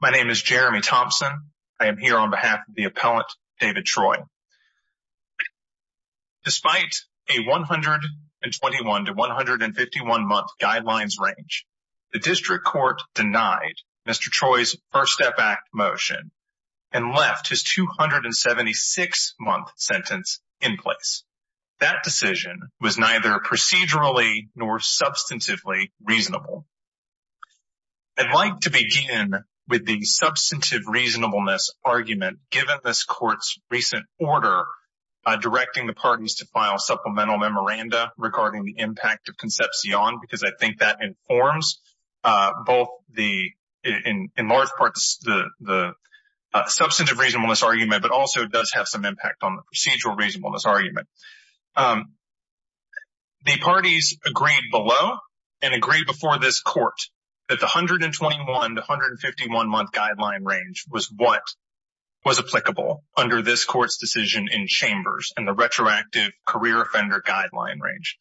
My name is Jeremy Thompson. I am here on behalf of the appellant, David Troy. Despite a 121 to 151-month guidelines range, the District Court denied Mr. Troy's First Step Act motion and left his 276-month sentence in place. That decision was neither procedurally nor substantively reasonable. I'd like to begin with the substantive reasonableness argument given this Court's recent order directing the parties to file supplemental memoranda regarding the impact of Concepcion, because I think that informs both in large part the substantive reasonableness argument but also does have some impact on the procedural reasonableness argument. The parties agreed below and agreed before this Court that the 121 to 151-month guideline range was what was applicable under this Court's decision in Chambers and the retroactive career offender guideline range.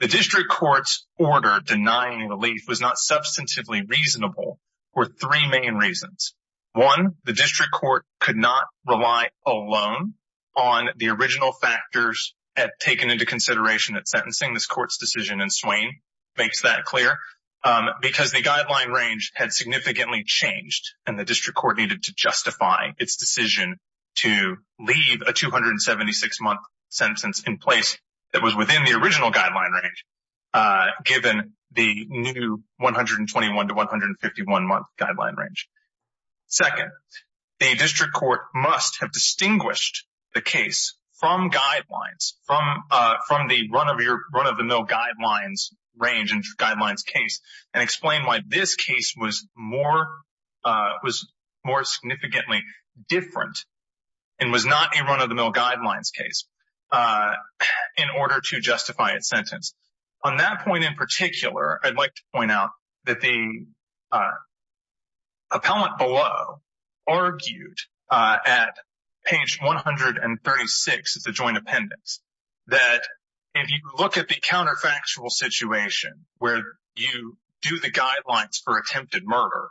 The District Court's order denying relief was not substantively reasonable for three main reasons. One, the District Court could not rely alone on the original factors taken into consideration at sentencing this Court's decision in Swain, makes that clear, because the guideline range had significantly changed and the District Court needed to justify its decision to leave a 276-month sentence in place that was within the original guideline range given the new 121 to 151-month guideline range. Second, the District Court must have distinguished the case from guidelines, from the run-of-the-mill guidelines range and guidelines case, and explain why this case was more significantly different and was not a run-of-the-mill guidelines case in order to justify its sentence. On that point in particular, I'd like to point out that the appellant below argued at page 136 of the joint appendix that if you look at the counterfactual situation where you do the guidelines for attempted murder,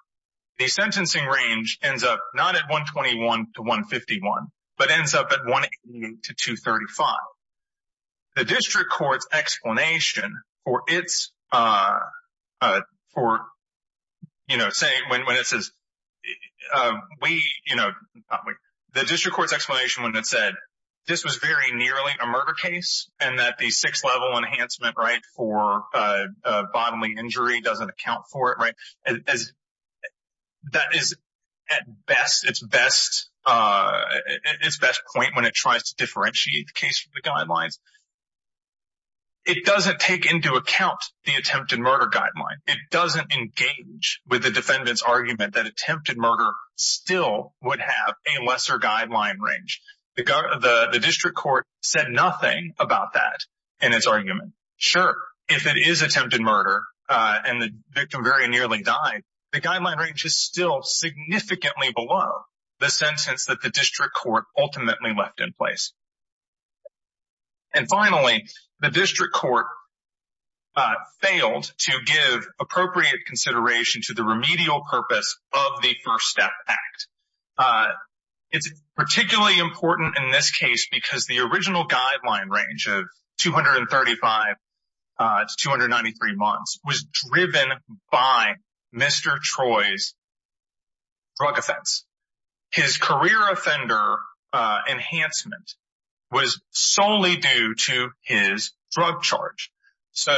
the sentencing range ends up not at 121 to 151 but ends up at 188 to 235. The District Court's explanation when it said this was very nearly a murder case and that the six-level enhancement for bodily injury doesn't account for it, that is at its best point when it tries to differentiate the case from the guidelines. It doesn't take into account the attempted murder guideline. It doesn't engage with the defendant's argument that attempted murder still would have a lesser guideline range. The District Court said nothing about that in its argument. Sure, if it is attempted murder and the victim very nearly died, the guideline range is still significantly below the sentence that the District Court ultimately left in place. And finally, the District Court failed to give appropriate consideration to the remedial purpose of the First Step Act. It's particularly important in this case because the original guideline range of 235 to 293 months was driven by Mr. Troy's drug offense. His career offender enhancement was solely due to his drug charge. So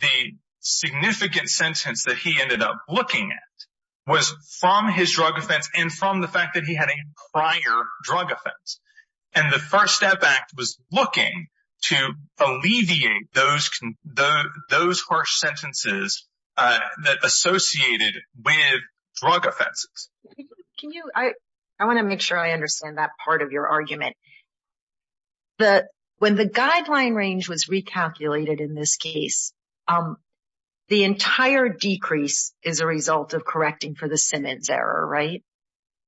the significant sentence that he ended up looking at was from his drug offense and from the fact that he had a prior drug offense. And the First Step Act was looking to alleviate those harsh sentences that associated with drug offenses. I want to make sure I understand that part of your argument. When the guideline range was recalculated in this case, the entire decrease is a result of correcting for the Simmons error, right?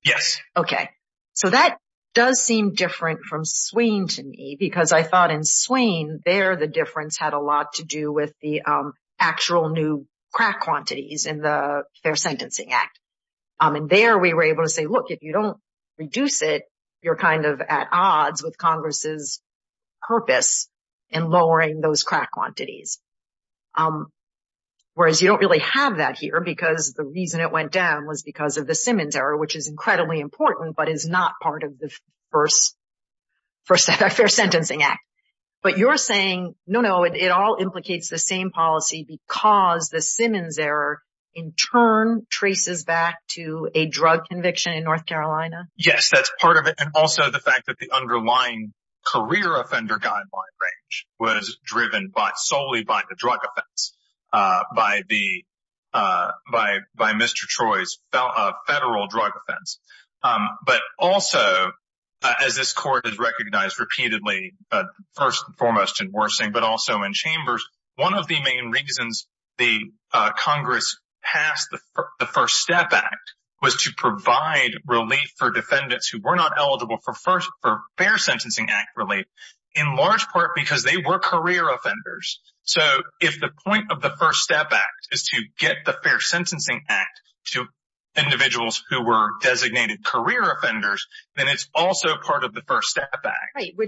Yes. Okay. So that does seem different from Swain to me because I thought in Swain there the difference had a lot to do with the actual new crack quantities in the Fair Sentencing Act. And there we were able to say, look, if you don't reduce it, you're kind of at odds with Congress's purpose in lowering those crack quantities. Whereas you don't really have that here because the reason it went down was because of the Simmons error, which is incredibly important but is not part of the First Step Act, Fair Sentencing Act. But you're saying, no, no, it all implicates the same policy because the Simmons error in turn traces back to a drug conviction in North Carolina? Yes, that's part of it. And also the fact that the underlying career offender guideline range was driven solely by the drug offense, by Mr. Troy's federal drug offense. But also, as this court has recognized repeatedly, first and foremost in Worsing but also in Chambers, one of the main reasons the Congress passed the First Step Act was to provide relief for defendants who were not eligible for Fair Sentencing Act relief, in large part because they were career offenders. So if the point of the First Step Act is to get the Fair Sentencing Act to individuals who were designated career offenders, then it's also part of the First Step Act.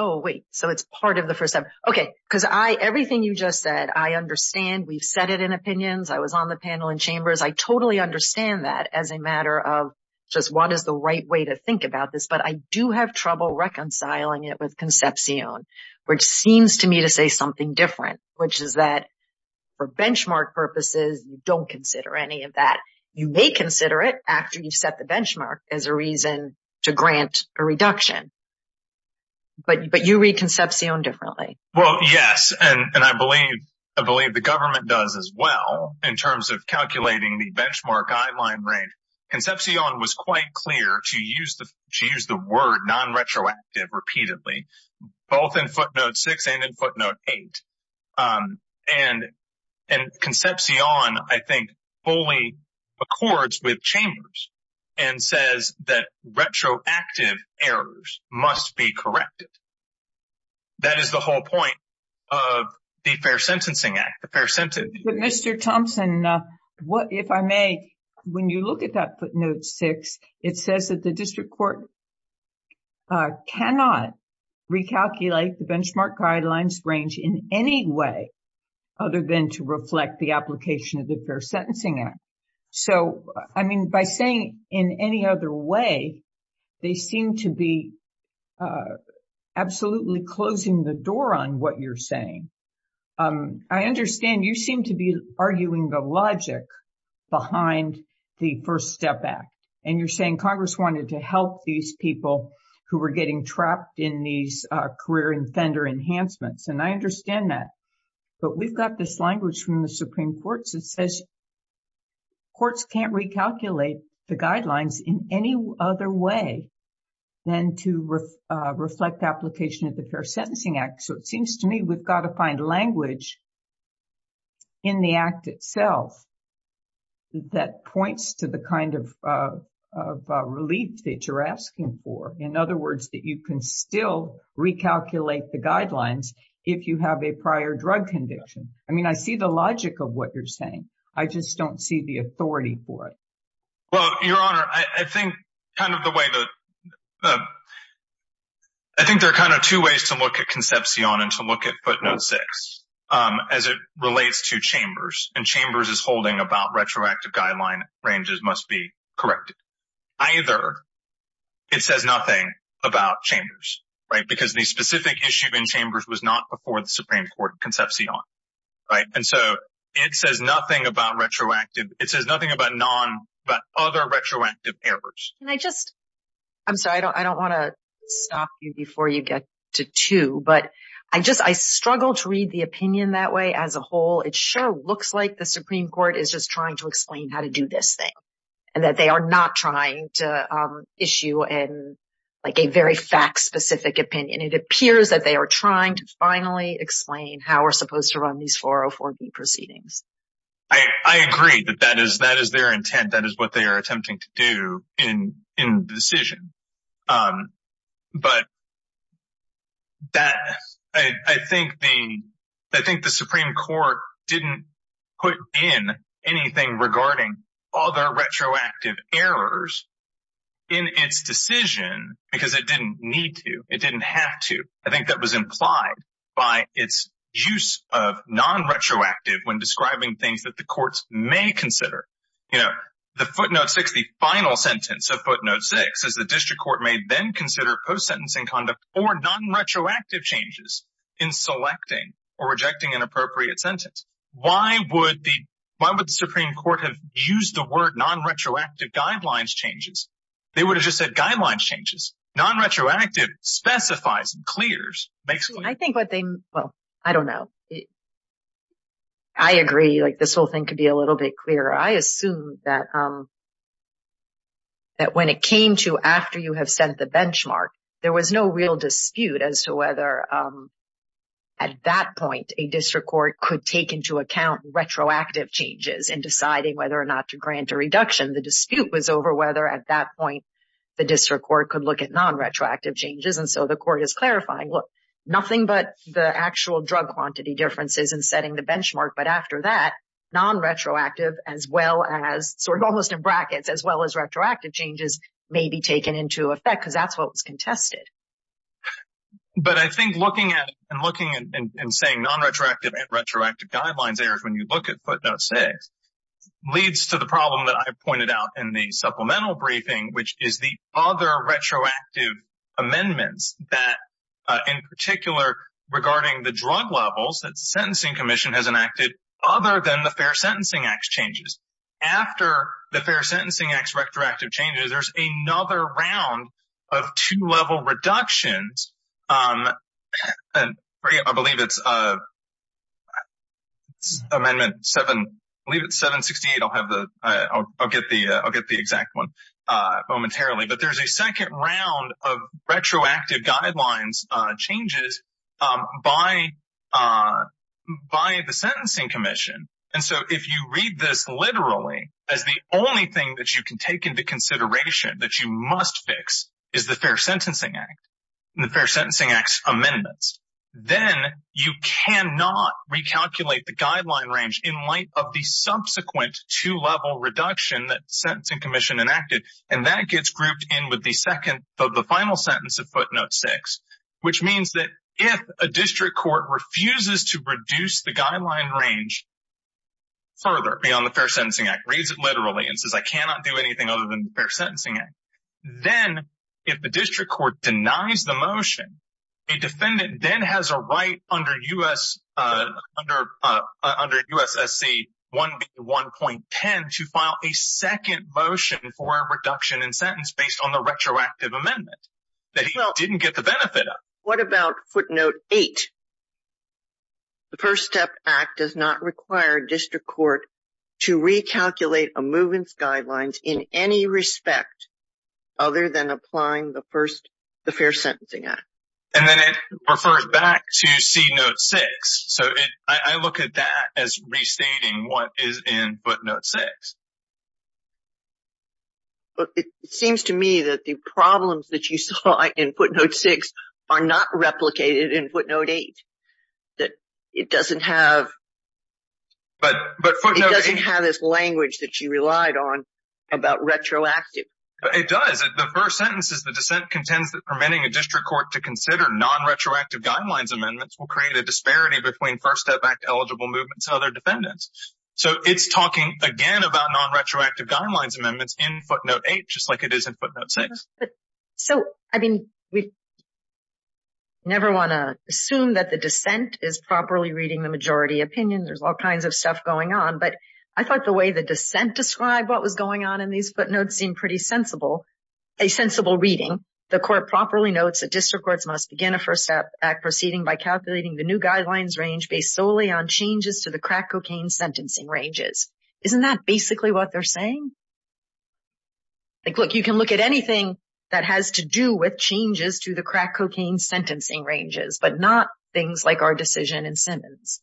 Oh, wait. So it's part of the First Step Act. Okay. Because everything you just said, I understand. We've set it in opinions. I was on the panel in Chambers. I totally understand that as a matter of just what is the right way to think about this. But I do have trouble reconciling it with Concepcion, which seems to me to say something different, which is that for benchmark purposes, you don't consider any of that. You may consider it after you've set the benchmark as a reason to grant a reduction. But you read Concepcion differently. Well, yes. And I believe the government does as well in terms of calculating the benchmark guideline rate. Concepcion was quite clear to use the word non-retroactive repeatedly, both in Footnote 6 and in Footnote 8. And Concepcion, I think, fully accords with Chambers and says that retroactive errors must be corrected. That is the whole point of the Fair Sentencing Act. But Mr. Thompson, if I may, when you look at that Footnote 6, it says that the district court cannot recalculate the benchmark guidelines range in any way other than to reflect the application of the Fair Sentencing Act. So, I mean, by saying in any other way, they seem to be absolutely closing the door on what you're saying. I understand you seem to be arguing the logic behind the First Step Act. And you're saying Congress wanted to help these people who were getting trapped in these career and fender enhancements. And I understand that. But we've got this language from the Supreme Court that says courts can't recalculate the guidelines in any other way than to reflect application of the Fair Sentencing Act. So it seems to me we've got to find language in the Act itself that points to the kind of relief that you're asking for. In other words, that you can still recalculate the guidelines if you have a prior drug conviction. I mean, I see the logic of what you're saying. I just don't see the authority for it. Well, Your Honor, I think there are kind of two ways to look at Concepcion and to look at Footnote 6 as it relates to Chambers. And Chambers is holding about retroactive guideline ranges must be corrected. Either it says nothing about Chambers because the specific issue in Chambers was not before the Supreme Court Concepcion. And so it says nothing about retroactive. It says nothing about other retroactive errors. I agree that that is their intent. That is what they are attempting to do in the decision. But I think the Supreme Court didn't put in anything regarding other retroactive errors in its decision because it didn't need to. It didn't have to. I think that was implied by its use of non-retroactive when describing things that the courts may consider. You know, the Footnote 6, the final sentence of Footnote 6, says the district court may then consider post-sentencing conduct or non-retroactive changes in selecting or rejecting an appropriate sentence. Why would the Supreme Court have used the word non-retroactive guidelines changes? They would have just said guidelines changes. Non-retroactive specifies and clears. retroactive changes in deciding whether or not to grant a reduction. The dispute was over whether at that point the district court could look at non-retroactive changes. And so the court is clarifying, look, nothing but the actual drug quantity differences and setting the benchmark. But after that, non-retroactive as well as sort of almost in brackets as well as retroactive changes may be taken into effect because that's what was contested. But I think looking at and looking and saying non-retroactive and retroactive guidelines errors when you look at Footnote 6 leads to the problem that I pointed out in the supplemental briefing, which is the other retroactive amendments that, in particular, regarding the drug levels that the Sentencing Commission has enacted other than the Fair Sentencing Act changes. After the Fair Sentencing Act retroactive changes, there's another round of two level reductions. I believe it's Amendment 768. I'll get the exact one momentarily. But there's a second round of retroactive guidelines changes by the Sentencing Commission. And so if you read this literally as the only thing that you can take into consideration that you must fix is the Fair Sentencing Act and the Fair Sentencing Act's amendments, then you cannot recalculate the guideline range in light of the subsequent two level reduction that the Sentencing Commission enacted. And that gets grouped in with the second of the final sentence of Footnote 6, which means that if a district court refuses to reduce the guideline range further beyond the Fair Sentencing Act, reads it literally and says, I cannot do anything other than the Fair Sentencing Act. Then if the district court denies the motion, a defendant then has a right under USSC 1.1.10 to file a second motion for a reduction in sentence based on the retroactive amendment that he didn't get the benefit of. What about Footnote 8? The First Step Act does not require a district court to recalculate a movements guidelines in any respect other than applying the first the Fair Sentencing Act. And then it refers back to C Note 6. So I look at that as restating what is in Footnote 6. But it seems to me that the problems that you saw in Footnote 6 are not replicated in Footnote 8. That it doesn't have this language that you relied on about retroactive. It does. The first sentence is the dissent contends that permitting a district court to consider non-retroactive guidelines amendments will create a disparity between First Step Act eligible movements and other defendants. So it's talking again about non-retroactive guidelines amendments in Footnote 8, just like it is in Footnote 6. But so, I mean, we never want to assume that the dissent is properly reading the majority opinion. There's all kinds of stuff going on. But I thought the way the dissent described what was going on in these footnotes seemed pretty sensible, a sensible reading. The court properly notes that district courts must begin a First Step Act proceeding by calculating the new guidelines range based solely on changes to the crack cocaine sentencing ranges. Isn't that basically what they're saying? Like, look, you can look at anything that has to do with changes to the crack cocaine sentencing ranges, but not things like our decision in Simmons.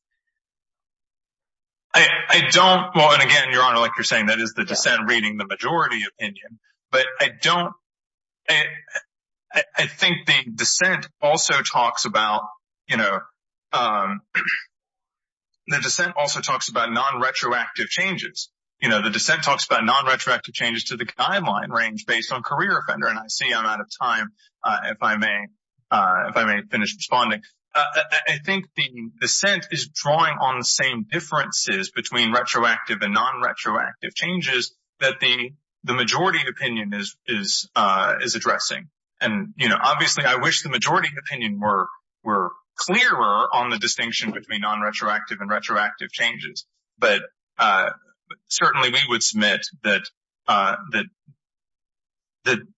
I don't—well, and again, Your Honor, like you're saying, that is the dissent reading the majority opinion. But I don't—I think the dissent also talks about, you know—the dissent also talks about non-retroactive changes. You know, the dissent talks about non-retroactive changes to the guideline range based on career offender, and I see I'm out of time, if I may finish responding. I think the dissent is drawing on the same differences between retroactive and non-retroactive changes that the majority opinion is addressing. And, you know, obviously I wish the majority opinion were clearer on the distinction between non-retroactive and retroactive changes. But certainly we would submit that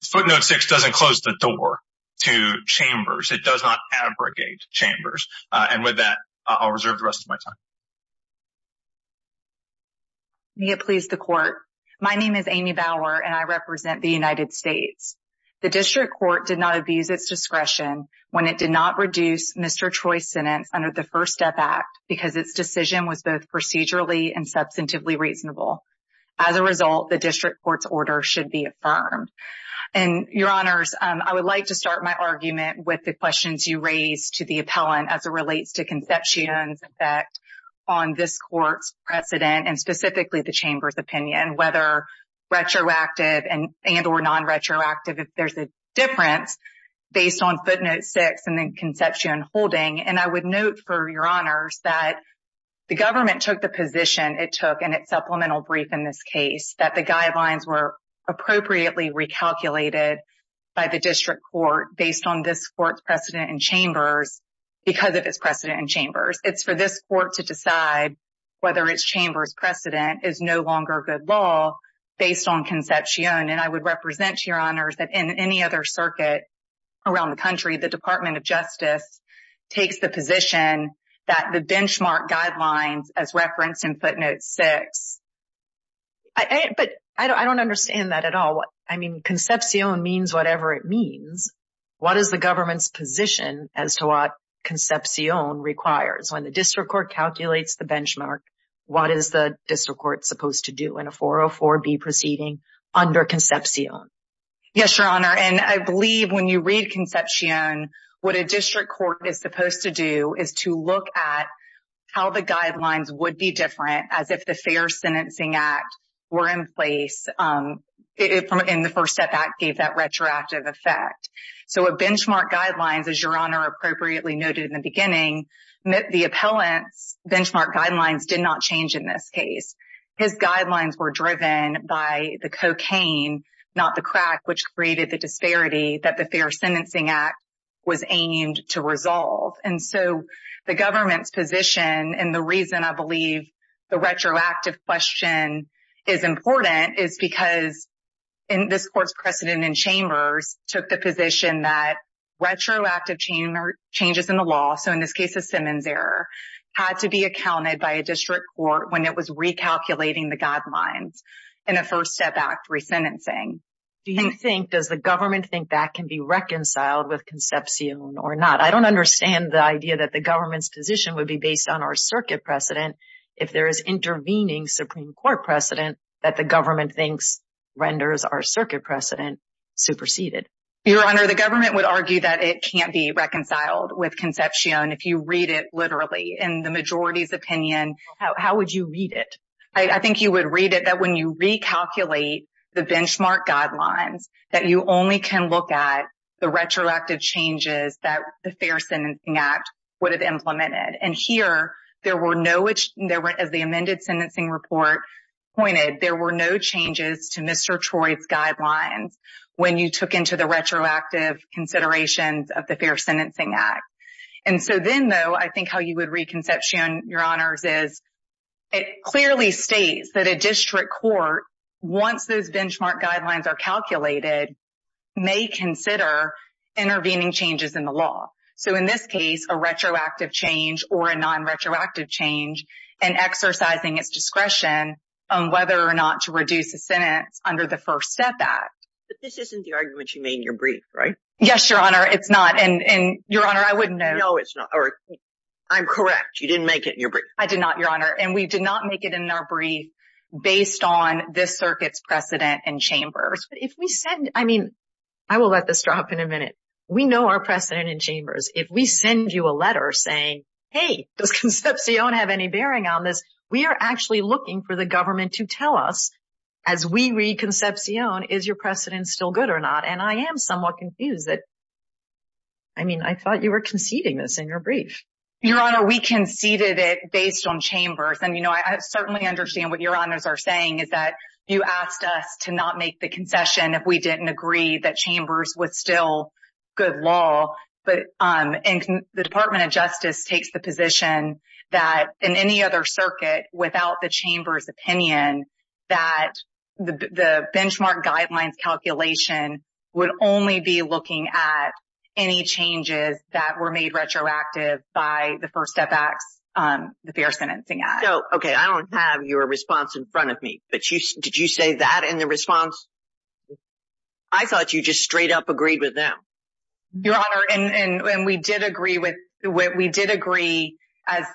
footnote 6 doesn't close the door to chambers. It does not abrogate chambers. And with that, I'll reserve the rest of my time. May it please the Court. My name is Amy Bauer, and I represent the United States. The district court did not abuse its discretion when it did not reduce Mr. Troy's sentence under the First Step Act because its decision was both procedurally and substantively reasonable. As a result, the district court's order should be affirmed. And, Your Honors, I would like to start my argument with the questions you raised to the appellant as it relates to Conception's effect on this court's precedent, and specifically the chamber's opinion, whether retroactive and or non-retroactive, if there's a difference based on footnote 6 and then Conception holding. And I would note, for Your Honors, that the government took the position it took in its supplemental brief in this case, that the guidelines were appropriately recalculated by the district court based on this court's precedent in chambers because of its precedent in chambers. It's for this court to decide whether its chamber's precedent is no longer good law based on Conception. And I would represent, Your Honors, that in any other circuit around the country, the Department of Justice takes the position that the benchmark guidelines as referenced in footnote 6. But I don't understand that at all. I mean, Conception means whatever it means. What is the government's position as to what Concepcion requires? When the district court calculates the benchmark, what is the district court supposed to do in a 404B proceeding under Concepcion? Yes, Your Honor, and I believe when you read Concepcion, what a district court is supposed to do is to look at how the guidelines would be different, as if the Fair Sentencing Act were in place in the first step that gave that retroactive effect. So a benchmark guidelines, as Your Honor appropriately noted in the beginning, the appellant's benchmark guidelines did not change in this case. His guidelines were driven by the cocaine, not the crack, which created the disparity that the Fair Sentencing Act was aimed to resolve. And so the government's position and the reason I believe the retroactive question is important is because this court's precedent in chambers took the position that retroactive changes in the law, so in this case a Simmons error, had to be accounted by a district court when it was recalculating the guidelines in a first step act resentencing. Do you think, does the government think that can be reconciled with Concepcion or not? I don't understand the idea that the government's position would be based on our circuit precedent if there is intervening Supreme Court precedent that the government thinks renders our circuit precedent superseded. Your Honor, the government would argue that it can't be reconciled with Concepcion if you read it literally in the majority's opinion. How would you read it? I think you would read it that when you recalculate the benchmark guidelines that you only can look at the retroactive changes that the Fair Sentencing Act would have implemented. And here there were no, as the amended sentencing report pointed, there were no changes to Mr. Troy's guidelines when you took into the retroactive considerations of the Fair Sentencing Act. And so then though, I think how you would read Concepcion, Your Honors, is it clearly states that a district court, once those benchmark guidelines are calculated, may consider intervening changes in the law. So in this case, a retroactive change or a non-retroactive change and exercising its discretion on whether or not to reduce a sentence under the First Step Act. But this isn't the argument you made in your brief, right? Yes, Your Honor, it's not. And Your Honor, I wouldn't know. No, it's not. I'm correct. You didn't make it in your brief. I did not, Your Honor. And we did not make it in our brief based on this circuit's precedent and chambers. But if we said, I mean, I will let this drop in a minute. We know our precedent and chambers. If we send you a letter saying, hey, does Concepcion have any bearing on this? We are actually looking for the government to tell us as we read Concepcion, is your precedent still good or not? And I am somewhat confused that, I mean, I thought you were conceding this in your brief. Your Honor, we conceded it based on chambers. And, you know, I certainly understand what Your Honors are saying is that you asked us to not make the concession if we didn't agree that chambers was still good law. But the Department of Justice takes the position that in any other circuit without the chamber's opinion, that the benchmark guidelines calculation would only be looking at any changes that were made retroactive by the First Step Act, the Fair Sentencing Act. So, OK, I don't have your response in front of me, but did you say that in the response? I thought you just straight up agreed with them. Your Honor, and we did agree as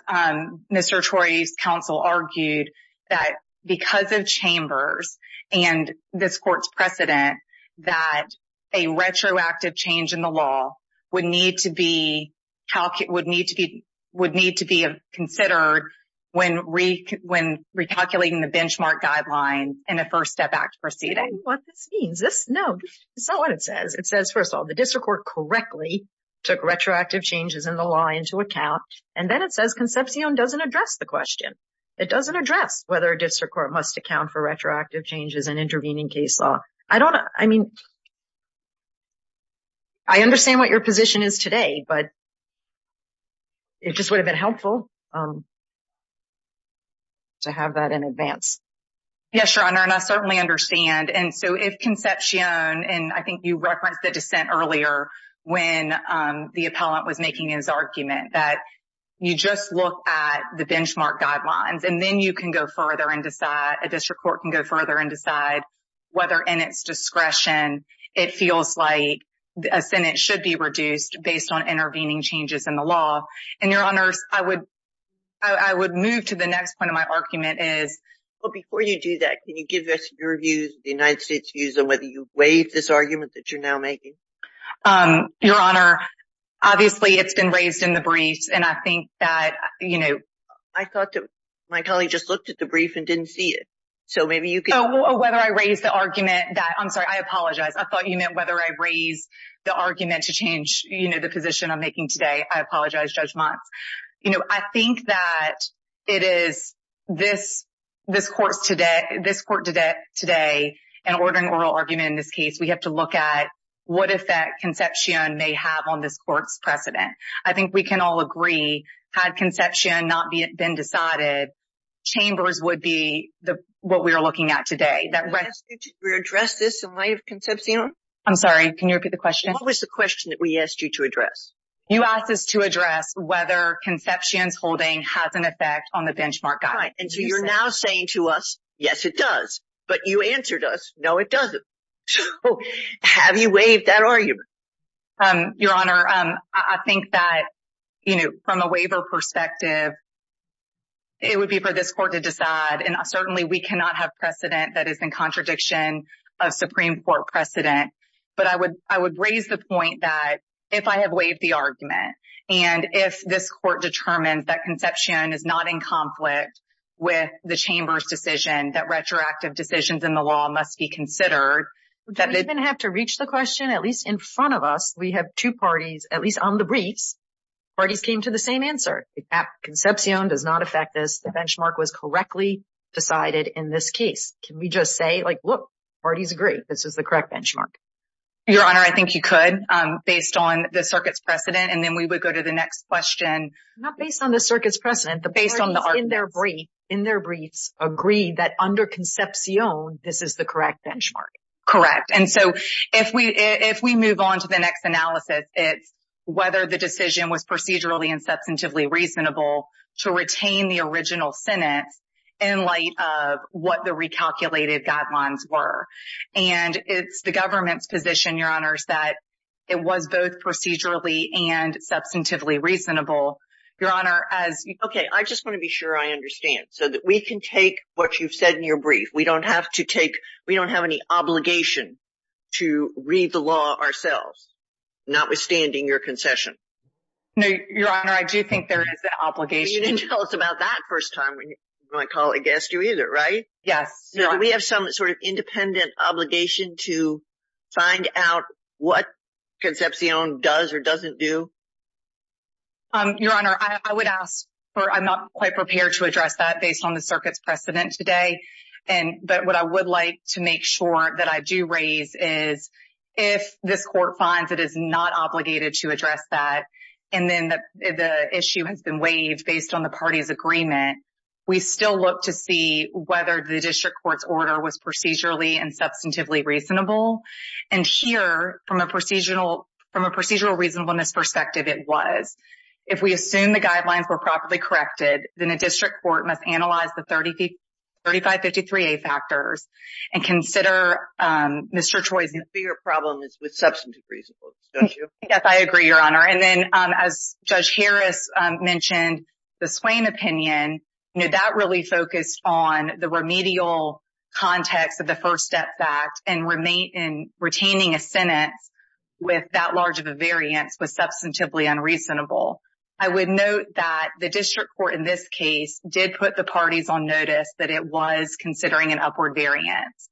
Mr. Troy's counsel argued that because of chambers and this court's precedent, that a retroactive change in the law would need to be considered when recalculating the benchmark guidelines in a First Step Act proceeding. No, it's not what it says. It says, first of all, the district court correctly took retroactive changes in the law into account. And then it says Concepcion doesn't address the question. It doesn't address whether a district court must account for retroactive changes in intervening case law. I don't, I mean, I understand what your position is today, but it just would have been helpful to have that in advance. Yes, Your Honor, and I certainly understand. And so if Concepcion, and I think you referenced the dissent earlier when the appellant was making his argument that you just look at the benchmark guidelines and then you can go further and decide, a district court can go further and decide whether in its discretion, it feels like a sentence should be reduced based on intervening changes in the law. And Your Honor, I would move to the next point of my argument is. Well, before you do that, can you give us your views, the United States views on whether you waive this argument that you're now making? Your Honor, obviously, it's been raised in the briefs. And I think that, you know. I thought my colleague just looked at the brief and didn't see it. So maybe you could. Oh, whether I raise the argument that, I'm sorry, I apologize. I thought you meant whether I raise the argument to change, you know, the position I'm making today. I apologize, Judge Motz. You know, I think that it is this court today, in ordering oral argument in this case, we have to look at what effect Concepcion may have on this court's precedent. I think we can all agree, had Concepcion not been decided, Chambers would be what we are looking at today. Did I ask you to address this in light of Concepcion? I'm sorry, can you repeat the question? What was the question that we asked you to address? You asked us to address whether Concepcion's holding has an effect on the benchmark guide. And so you're now saying to us, yes, it does. But you answered us, no, it doesn't. So have you waived that argument? Your Honor, I think that, you know, from a waiver perspective, it would be for this court to decide. And certainly we cannot have precedent that is in contradiction of Supreme Court precedent. But I would raise the point that if I have waived the argument, and if this court determines that Concepcion is not in conflict with the Chamber's decision, that retroactive decisions in the law must be considered. Do we even have to reach the question? At least in front of us, we have two parties, at least on the briefs, parties came to the same answer. Concepcion does not affect this. The benchmark was correctly decided in this case. Can we just say, like, look, parties agree this is the correct benchmark? Your Honor, I think you could, based on the circuit's precedent. And then we would go to the next question. Not based on the circuit's precedent. The parties in their briefs agree that under Concepcion, this is the correct benchmark. Correct. And so if we move on to the next analysis, it's whether the decision was procedurally and substantively reasonable to retain the original sentence in light of what the recalculated guidelines were. And it's the government's position, Your Honor, that it was both procedurally and substantively reasonable. Your Honor, as you – Okay. I just want to be sure I understand so that we can take what you've said in your brief. We don't have to take – we don't have any obligation to read the law ourselves, notwithstanding your concession. No, Your Honor, I do think there is an obligation. You didn't tell us about that first time when my colleague asked you either, right? Yes. Do we have some sort of independent obligation to find out what Concepcion does or doesn't do? Your Honor, I would ask for – I'm not quite prepared to address that based on the circuit's precedent today. But what I would like to make sure that I do raise is if this court finds it is not obligated to address that and then the issue has been waived based on the party's agreement, we still look to see whether the district court's order was procedurally and substantively reasonable. And here, from a procedural reasonableness perspective, it was. If we assume the guidelines were properly corrected, then a district court must analyze the 3553A factors and consider Mr. Choi's – The bigger problem is with substantive reasonableness, don't you? Yes, I agree, Your Honor. And then as Judge Harris mentioned, the Swain opinion, that really focused on the remedial context of the First Step Act and retaining a sentence with that large of a variance was substantively unreasonable. I would note that the district court in this case did put the parties on notice that it was considering an upward variance.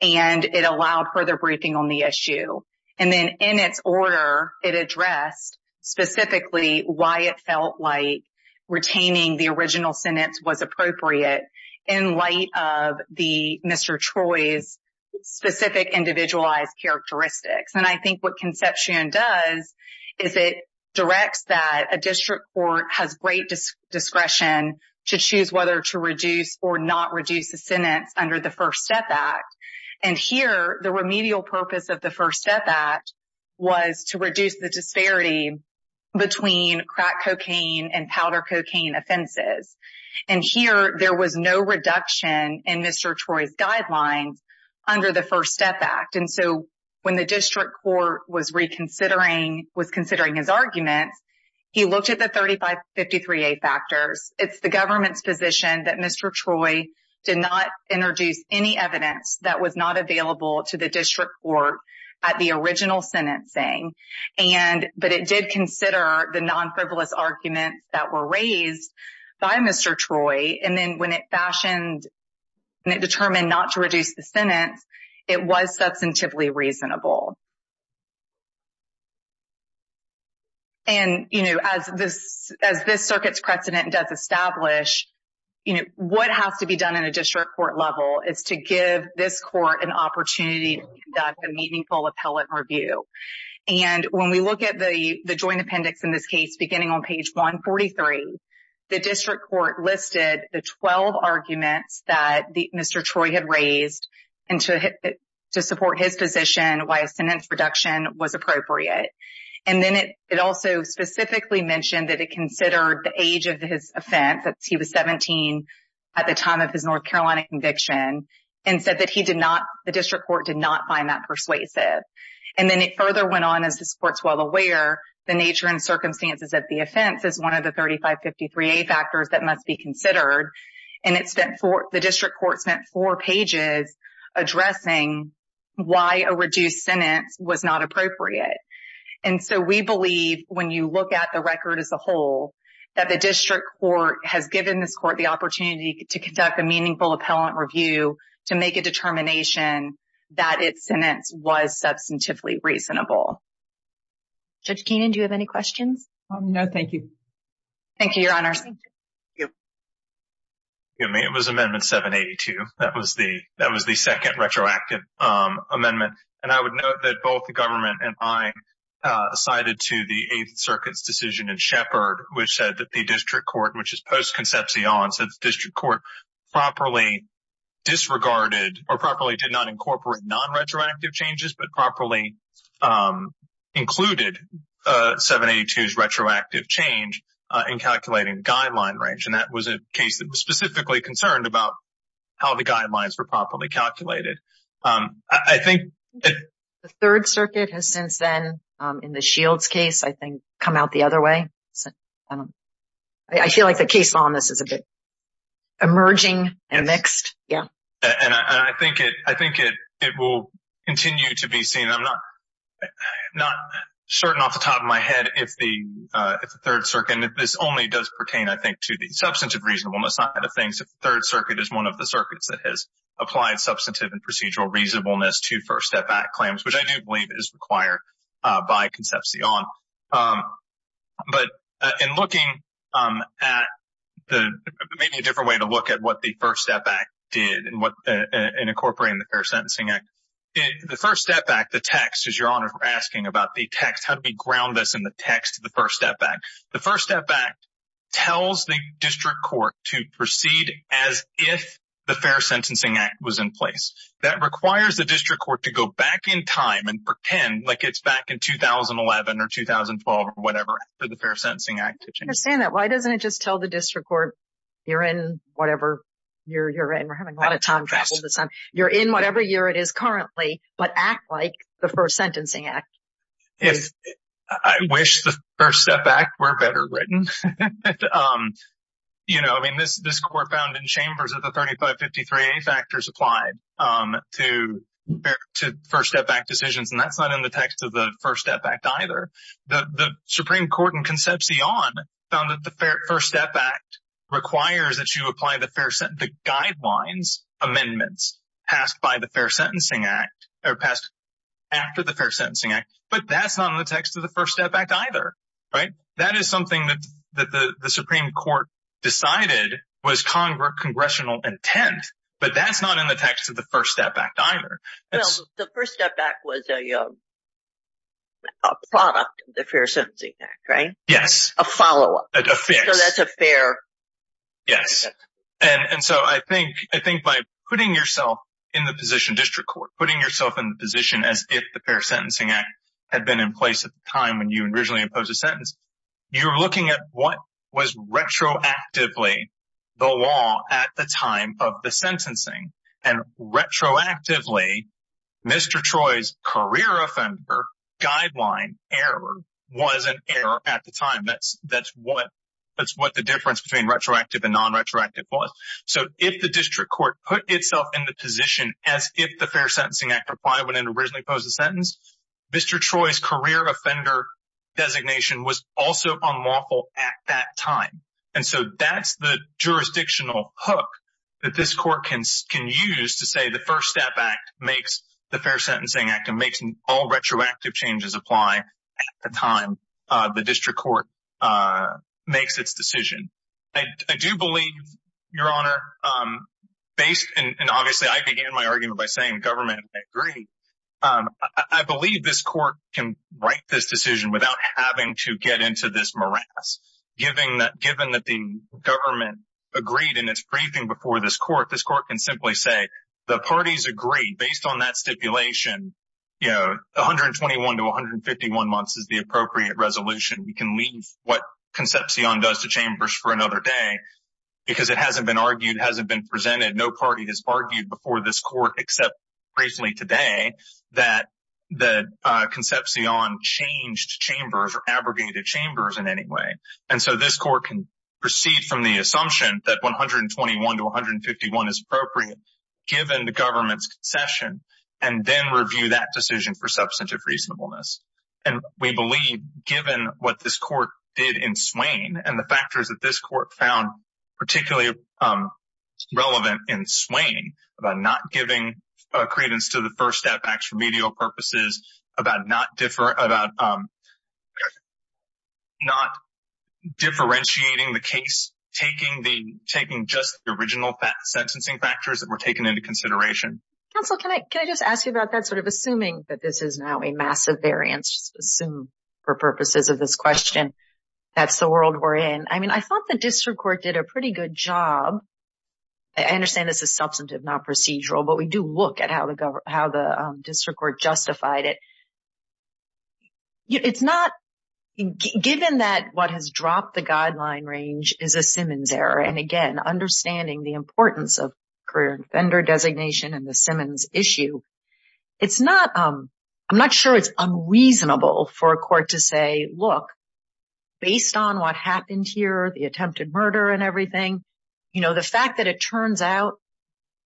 And it allowed further briefing on the issue. And then in its order, it addressed specifically why it felt like retaining the original sentence was appropriate in light of Mr. Choi's specific individualized characteristics. And I think what conception does is it directs that a district court has great discretion to choose whether to reduce or not reduce a sentence under the First Step Act. And here, the remedial purpose of the First Step Act was to reduce the disparity between crack cocaine and powder cocaine offenses. And here, there was no reduction in Mr. Choi's guidelines under the First Step Act. And so when the district court was reconsidering – was considering his arguments, he looked at the 3553A factors. It's the government's position that Mr. Choi did not introduce any evidence that was not available to the district court at the original sentencing. But it did consider the non-frivolous arguments that were raised by Mr. Choi. And then when it fashioned and it determined not to reduce the sentence, it was substantively reasonable. And, you know, as this circuit's precedent does establish, you know, what has to be done in a district court level is to give this court an opportunity to conduct a meaningful appellate review. And when we look at the joint appendix in this case, beginning on page 143, the district court listed the 12 arguments that Mr. Choi had raised to support his position why a sentence reduction was appropriate. And then it also specifically mentioned that it considered the age of his offense, that he was 17 at the time of his North Carolina conviction, and said that he did not – the district court did not find that persuasive. And then it further went on, as this court's well aware, the nature and circumstances of the offense is one of the 3553A factors that must be considered. And it spent four – the district court spent four pages addressing why a reduced sentence was not appropriate. And so we believe when you look at the record as a whole, that the district court has given this court the opportunity to conduct a meaningful appellate review to make a determination that its sentence was substantively reasonable. Judge Keenan, do you have any questions? No, thank you. Thank you, Your Honor. Thank you. It was Amendment 782. That was the second retroactive amendment. And I would note that both the government and I sided to the Eighth Circuit's decision in Shepard, which said that the district court, which is post-concepcion, said the district court properly disregarded or properly did not incorporate non-retroactive changes, but properly included 782's retroactive change in calculating guideline range. And that was a case that was specifically concerned about how the guidelines were properly calculated. The Third Circuit has since then, in the Shields case, I think, come out the other way. I feel like the case law in this is a bit emerging and mixed. And I think it will continue to be seen. I'm not certain off the top of my head if the Third Circuit – and this only does pertain, I think, to the substantive reasonableness side of things – if the Third Circuit is one of the circuits that has applied substantive and procedural reasonableness to First Step Act claims, which I do believe is required by concepcion. But in looking at the – maybe a different way to look at what the First Step Act did in incorporating the Fair Sentencing Act. The First Step Act, the text, as Your Honor is asking about the text, how do we ground this in the text of the First Step Act? The First Step Act tells the district court to proceed as if the Fair Sentencing Act was in place. That requires the district court to go back in time and pretend like it's back in 2011 or 2012 or whatever for the Fair Sentencing Act to change. I understand that. Why doesn't it just tell the district court you're in whatever year you're in? We're having a lot of time trouble with this. You're in whatever year it is currently, but act like the Fair Sentencing Act. If – I wish the First Step Act were better written. You know, I mean, this court found in Chambers that the 3553A factors applied to First Step Act decisions, and that's not in the text of the First Step Act either. The Supreme Court in concepcion found that the First Step Act requires that you apply the Fair – But that's not in the text of the First Step Act either, right? That is something that the Supreme Court decided was congressional intent, but that's not in the text of the First Step Act either. Well, the First Step Act was a product of the Fair Sentencing Act, right? Yes. A follow-up. A fix. So that's a fair – Yes. And so I think by putting yourself in the position district court, putting yourself in the position as if the Fair Sentencing Act had been in place at the time when you originally imposed a sentence, you're looking at what was retroactively the law at the time of the sentencing. And retroactively, Mr. Troy's career offender guideline error was an error at the time. That's what the difference between retroactive and non-retroactive was. So if the district court put itself in the position as if the Fair Sentencing Act applied when it originally imposed a sentence, Mr. Troy's career offender designation was also unlawful at that time. And so that's the jurisdictional hook that this court can use to say the First Step Act makes the Fair Sentencing Act and makes all retroactive changes apply at the time the district court makes its decision. I do believe, Your Honor, based – and obviously I began my argument by saying government agree. I believe this court can write this decision without having to get into this morass. Given that the government agreed in its briefing before this court, this court can simply say the parties agree. Based on that stipulation, you know, 121 to 151 months is the appropriate resolution. We can leave what Concepcion does to Chambers for another day because it hasn't been argued, hasn't been presented. No party has argued before this court except recently today that Concepcion changed Chambers or abrogated Chambers in any way. And so this court can proceed from the assumption that 121 to 151 is appropriate given the government's concession and then review that decision for substantive reasonableness. And we believe, given what this court did in Swain and the factors that this court found particularly relevant in Swain, about not giving credence to the First Step Act for medial purposes, about not differentiating the case, taking just the original sentencing factors that were taken into consideration. Counsel, can I just ask you about that, sort of assuming that this is now a massive variance, just assume for purposes of this question, that's the world we're in. I mean, I thought the district court did a pretty good job. I understand this is substantive, not procedural, but we do look at how the district court justified it. It's not, given that what has dropped the guideline range is a Simmons error, and again, understanding the importance of career offender designation and the Simmons issue, it's not, I'm not sure it's unreasonable for a court to say, look, based on what happened here, the attempted murder and everything, the fact that it turns out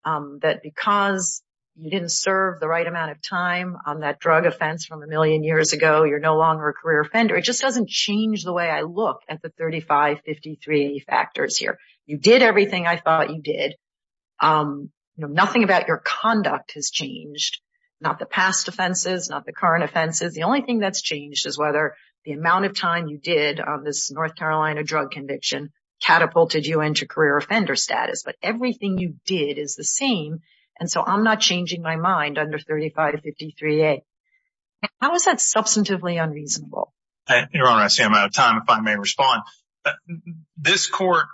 that because you didn't serve the right amount of time on that drug offense from a million years ago, you're no longer a career offender, it just doesn't change the way I look at the 35-53 factors here. You did everything I thought you did. Nothing about your conduct has changed, not the past offenses, not the current offenses. The only thing that's changed is whether the amount of time you did on this North Carolina drug conviction catapulted you into career offender status, but everything you did is the same, and so I'm not changing my mind under 35-53A. How is that substantively unreasonable? Your Honor, I see I'm out of time, if I may respond. This court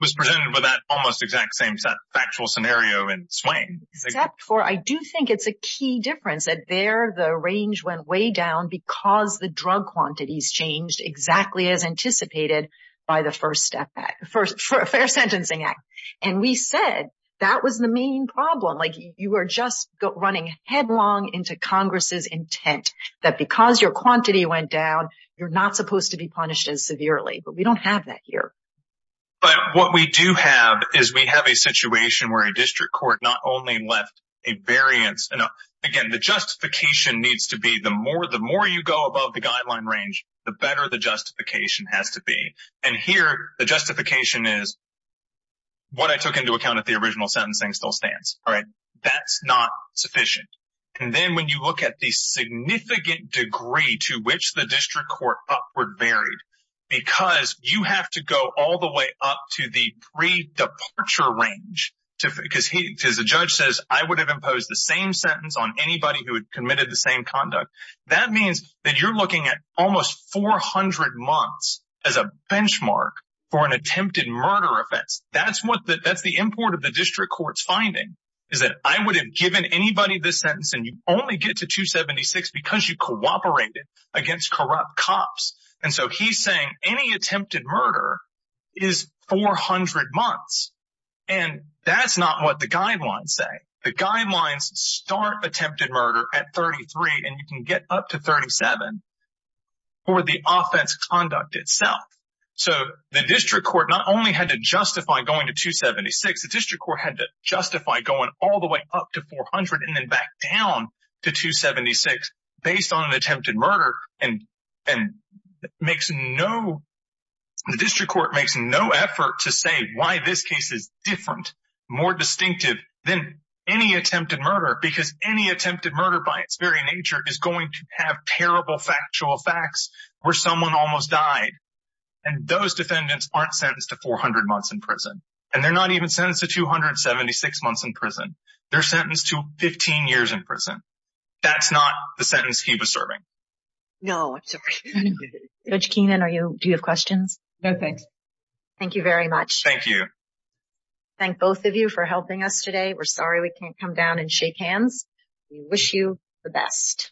was presented with that almost exact same factual scenario in Swain. Except for I do think it's a key difference that there the range went way down because the drug quantities changed exactly as anticipated by the First Step Act, the Fair Sentencing Act, and we said that was the main problem. Like, you were just running headlong into Congress's intent that because your quantity went down, you're not supposed to be punished as severely, but we don't have that here. But what we do have is we have a situation where a district court not only left a variance. Again, the justification needs to be the more you go above the guideline range, the better the justification has to be. And here, the justification is what I took into account if the original sentencing still stands. All right, that's not sufficient. And then when you look at the significant degree to which the district court upward buried, because you have to go all the way up to the pre-departure range, because the judge says, I would have imposed the same sentence on anybody who had committed the same conduct. That means that you're looking at almost 400 months as a benchmark for an attempted murder offense. That's the import of the district court's finding, is that I would have given anybody this sentence, and you only get to 276 because you cooperated against corrupt cops. And so he's saying any attempted murder is 400 months, and that's not what the guidelines say. The guidelines start attempted murder at 33, and you can get up to 37 for the offense conduct itself. So the district court not only had to justify going to 276, the district court had to justify going all the way up to 400 and then back down to 276 based on an attempted murder. And the district court makes no effort to say why this case is different, more distinctive than any attempted murder, because any attempted murder by its very nature is going to have terrible factual facts where someone almost died. And those defendants aren't sentenced to 400 months in prison, and they're not even sentenced to 276 months in prison. They're sentenced to 15 years in prison. That's not the sentence he was serving. No, I'm sorry. Judge Keenan, do you have questions? No, thanks. Thank you very much. Thank you. Thank both of you for helping us today. We're sorry we can't come down and shake hands. We wish you the best.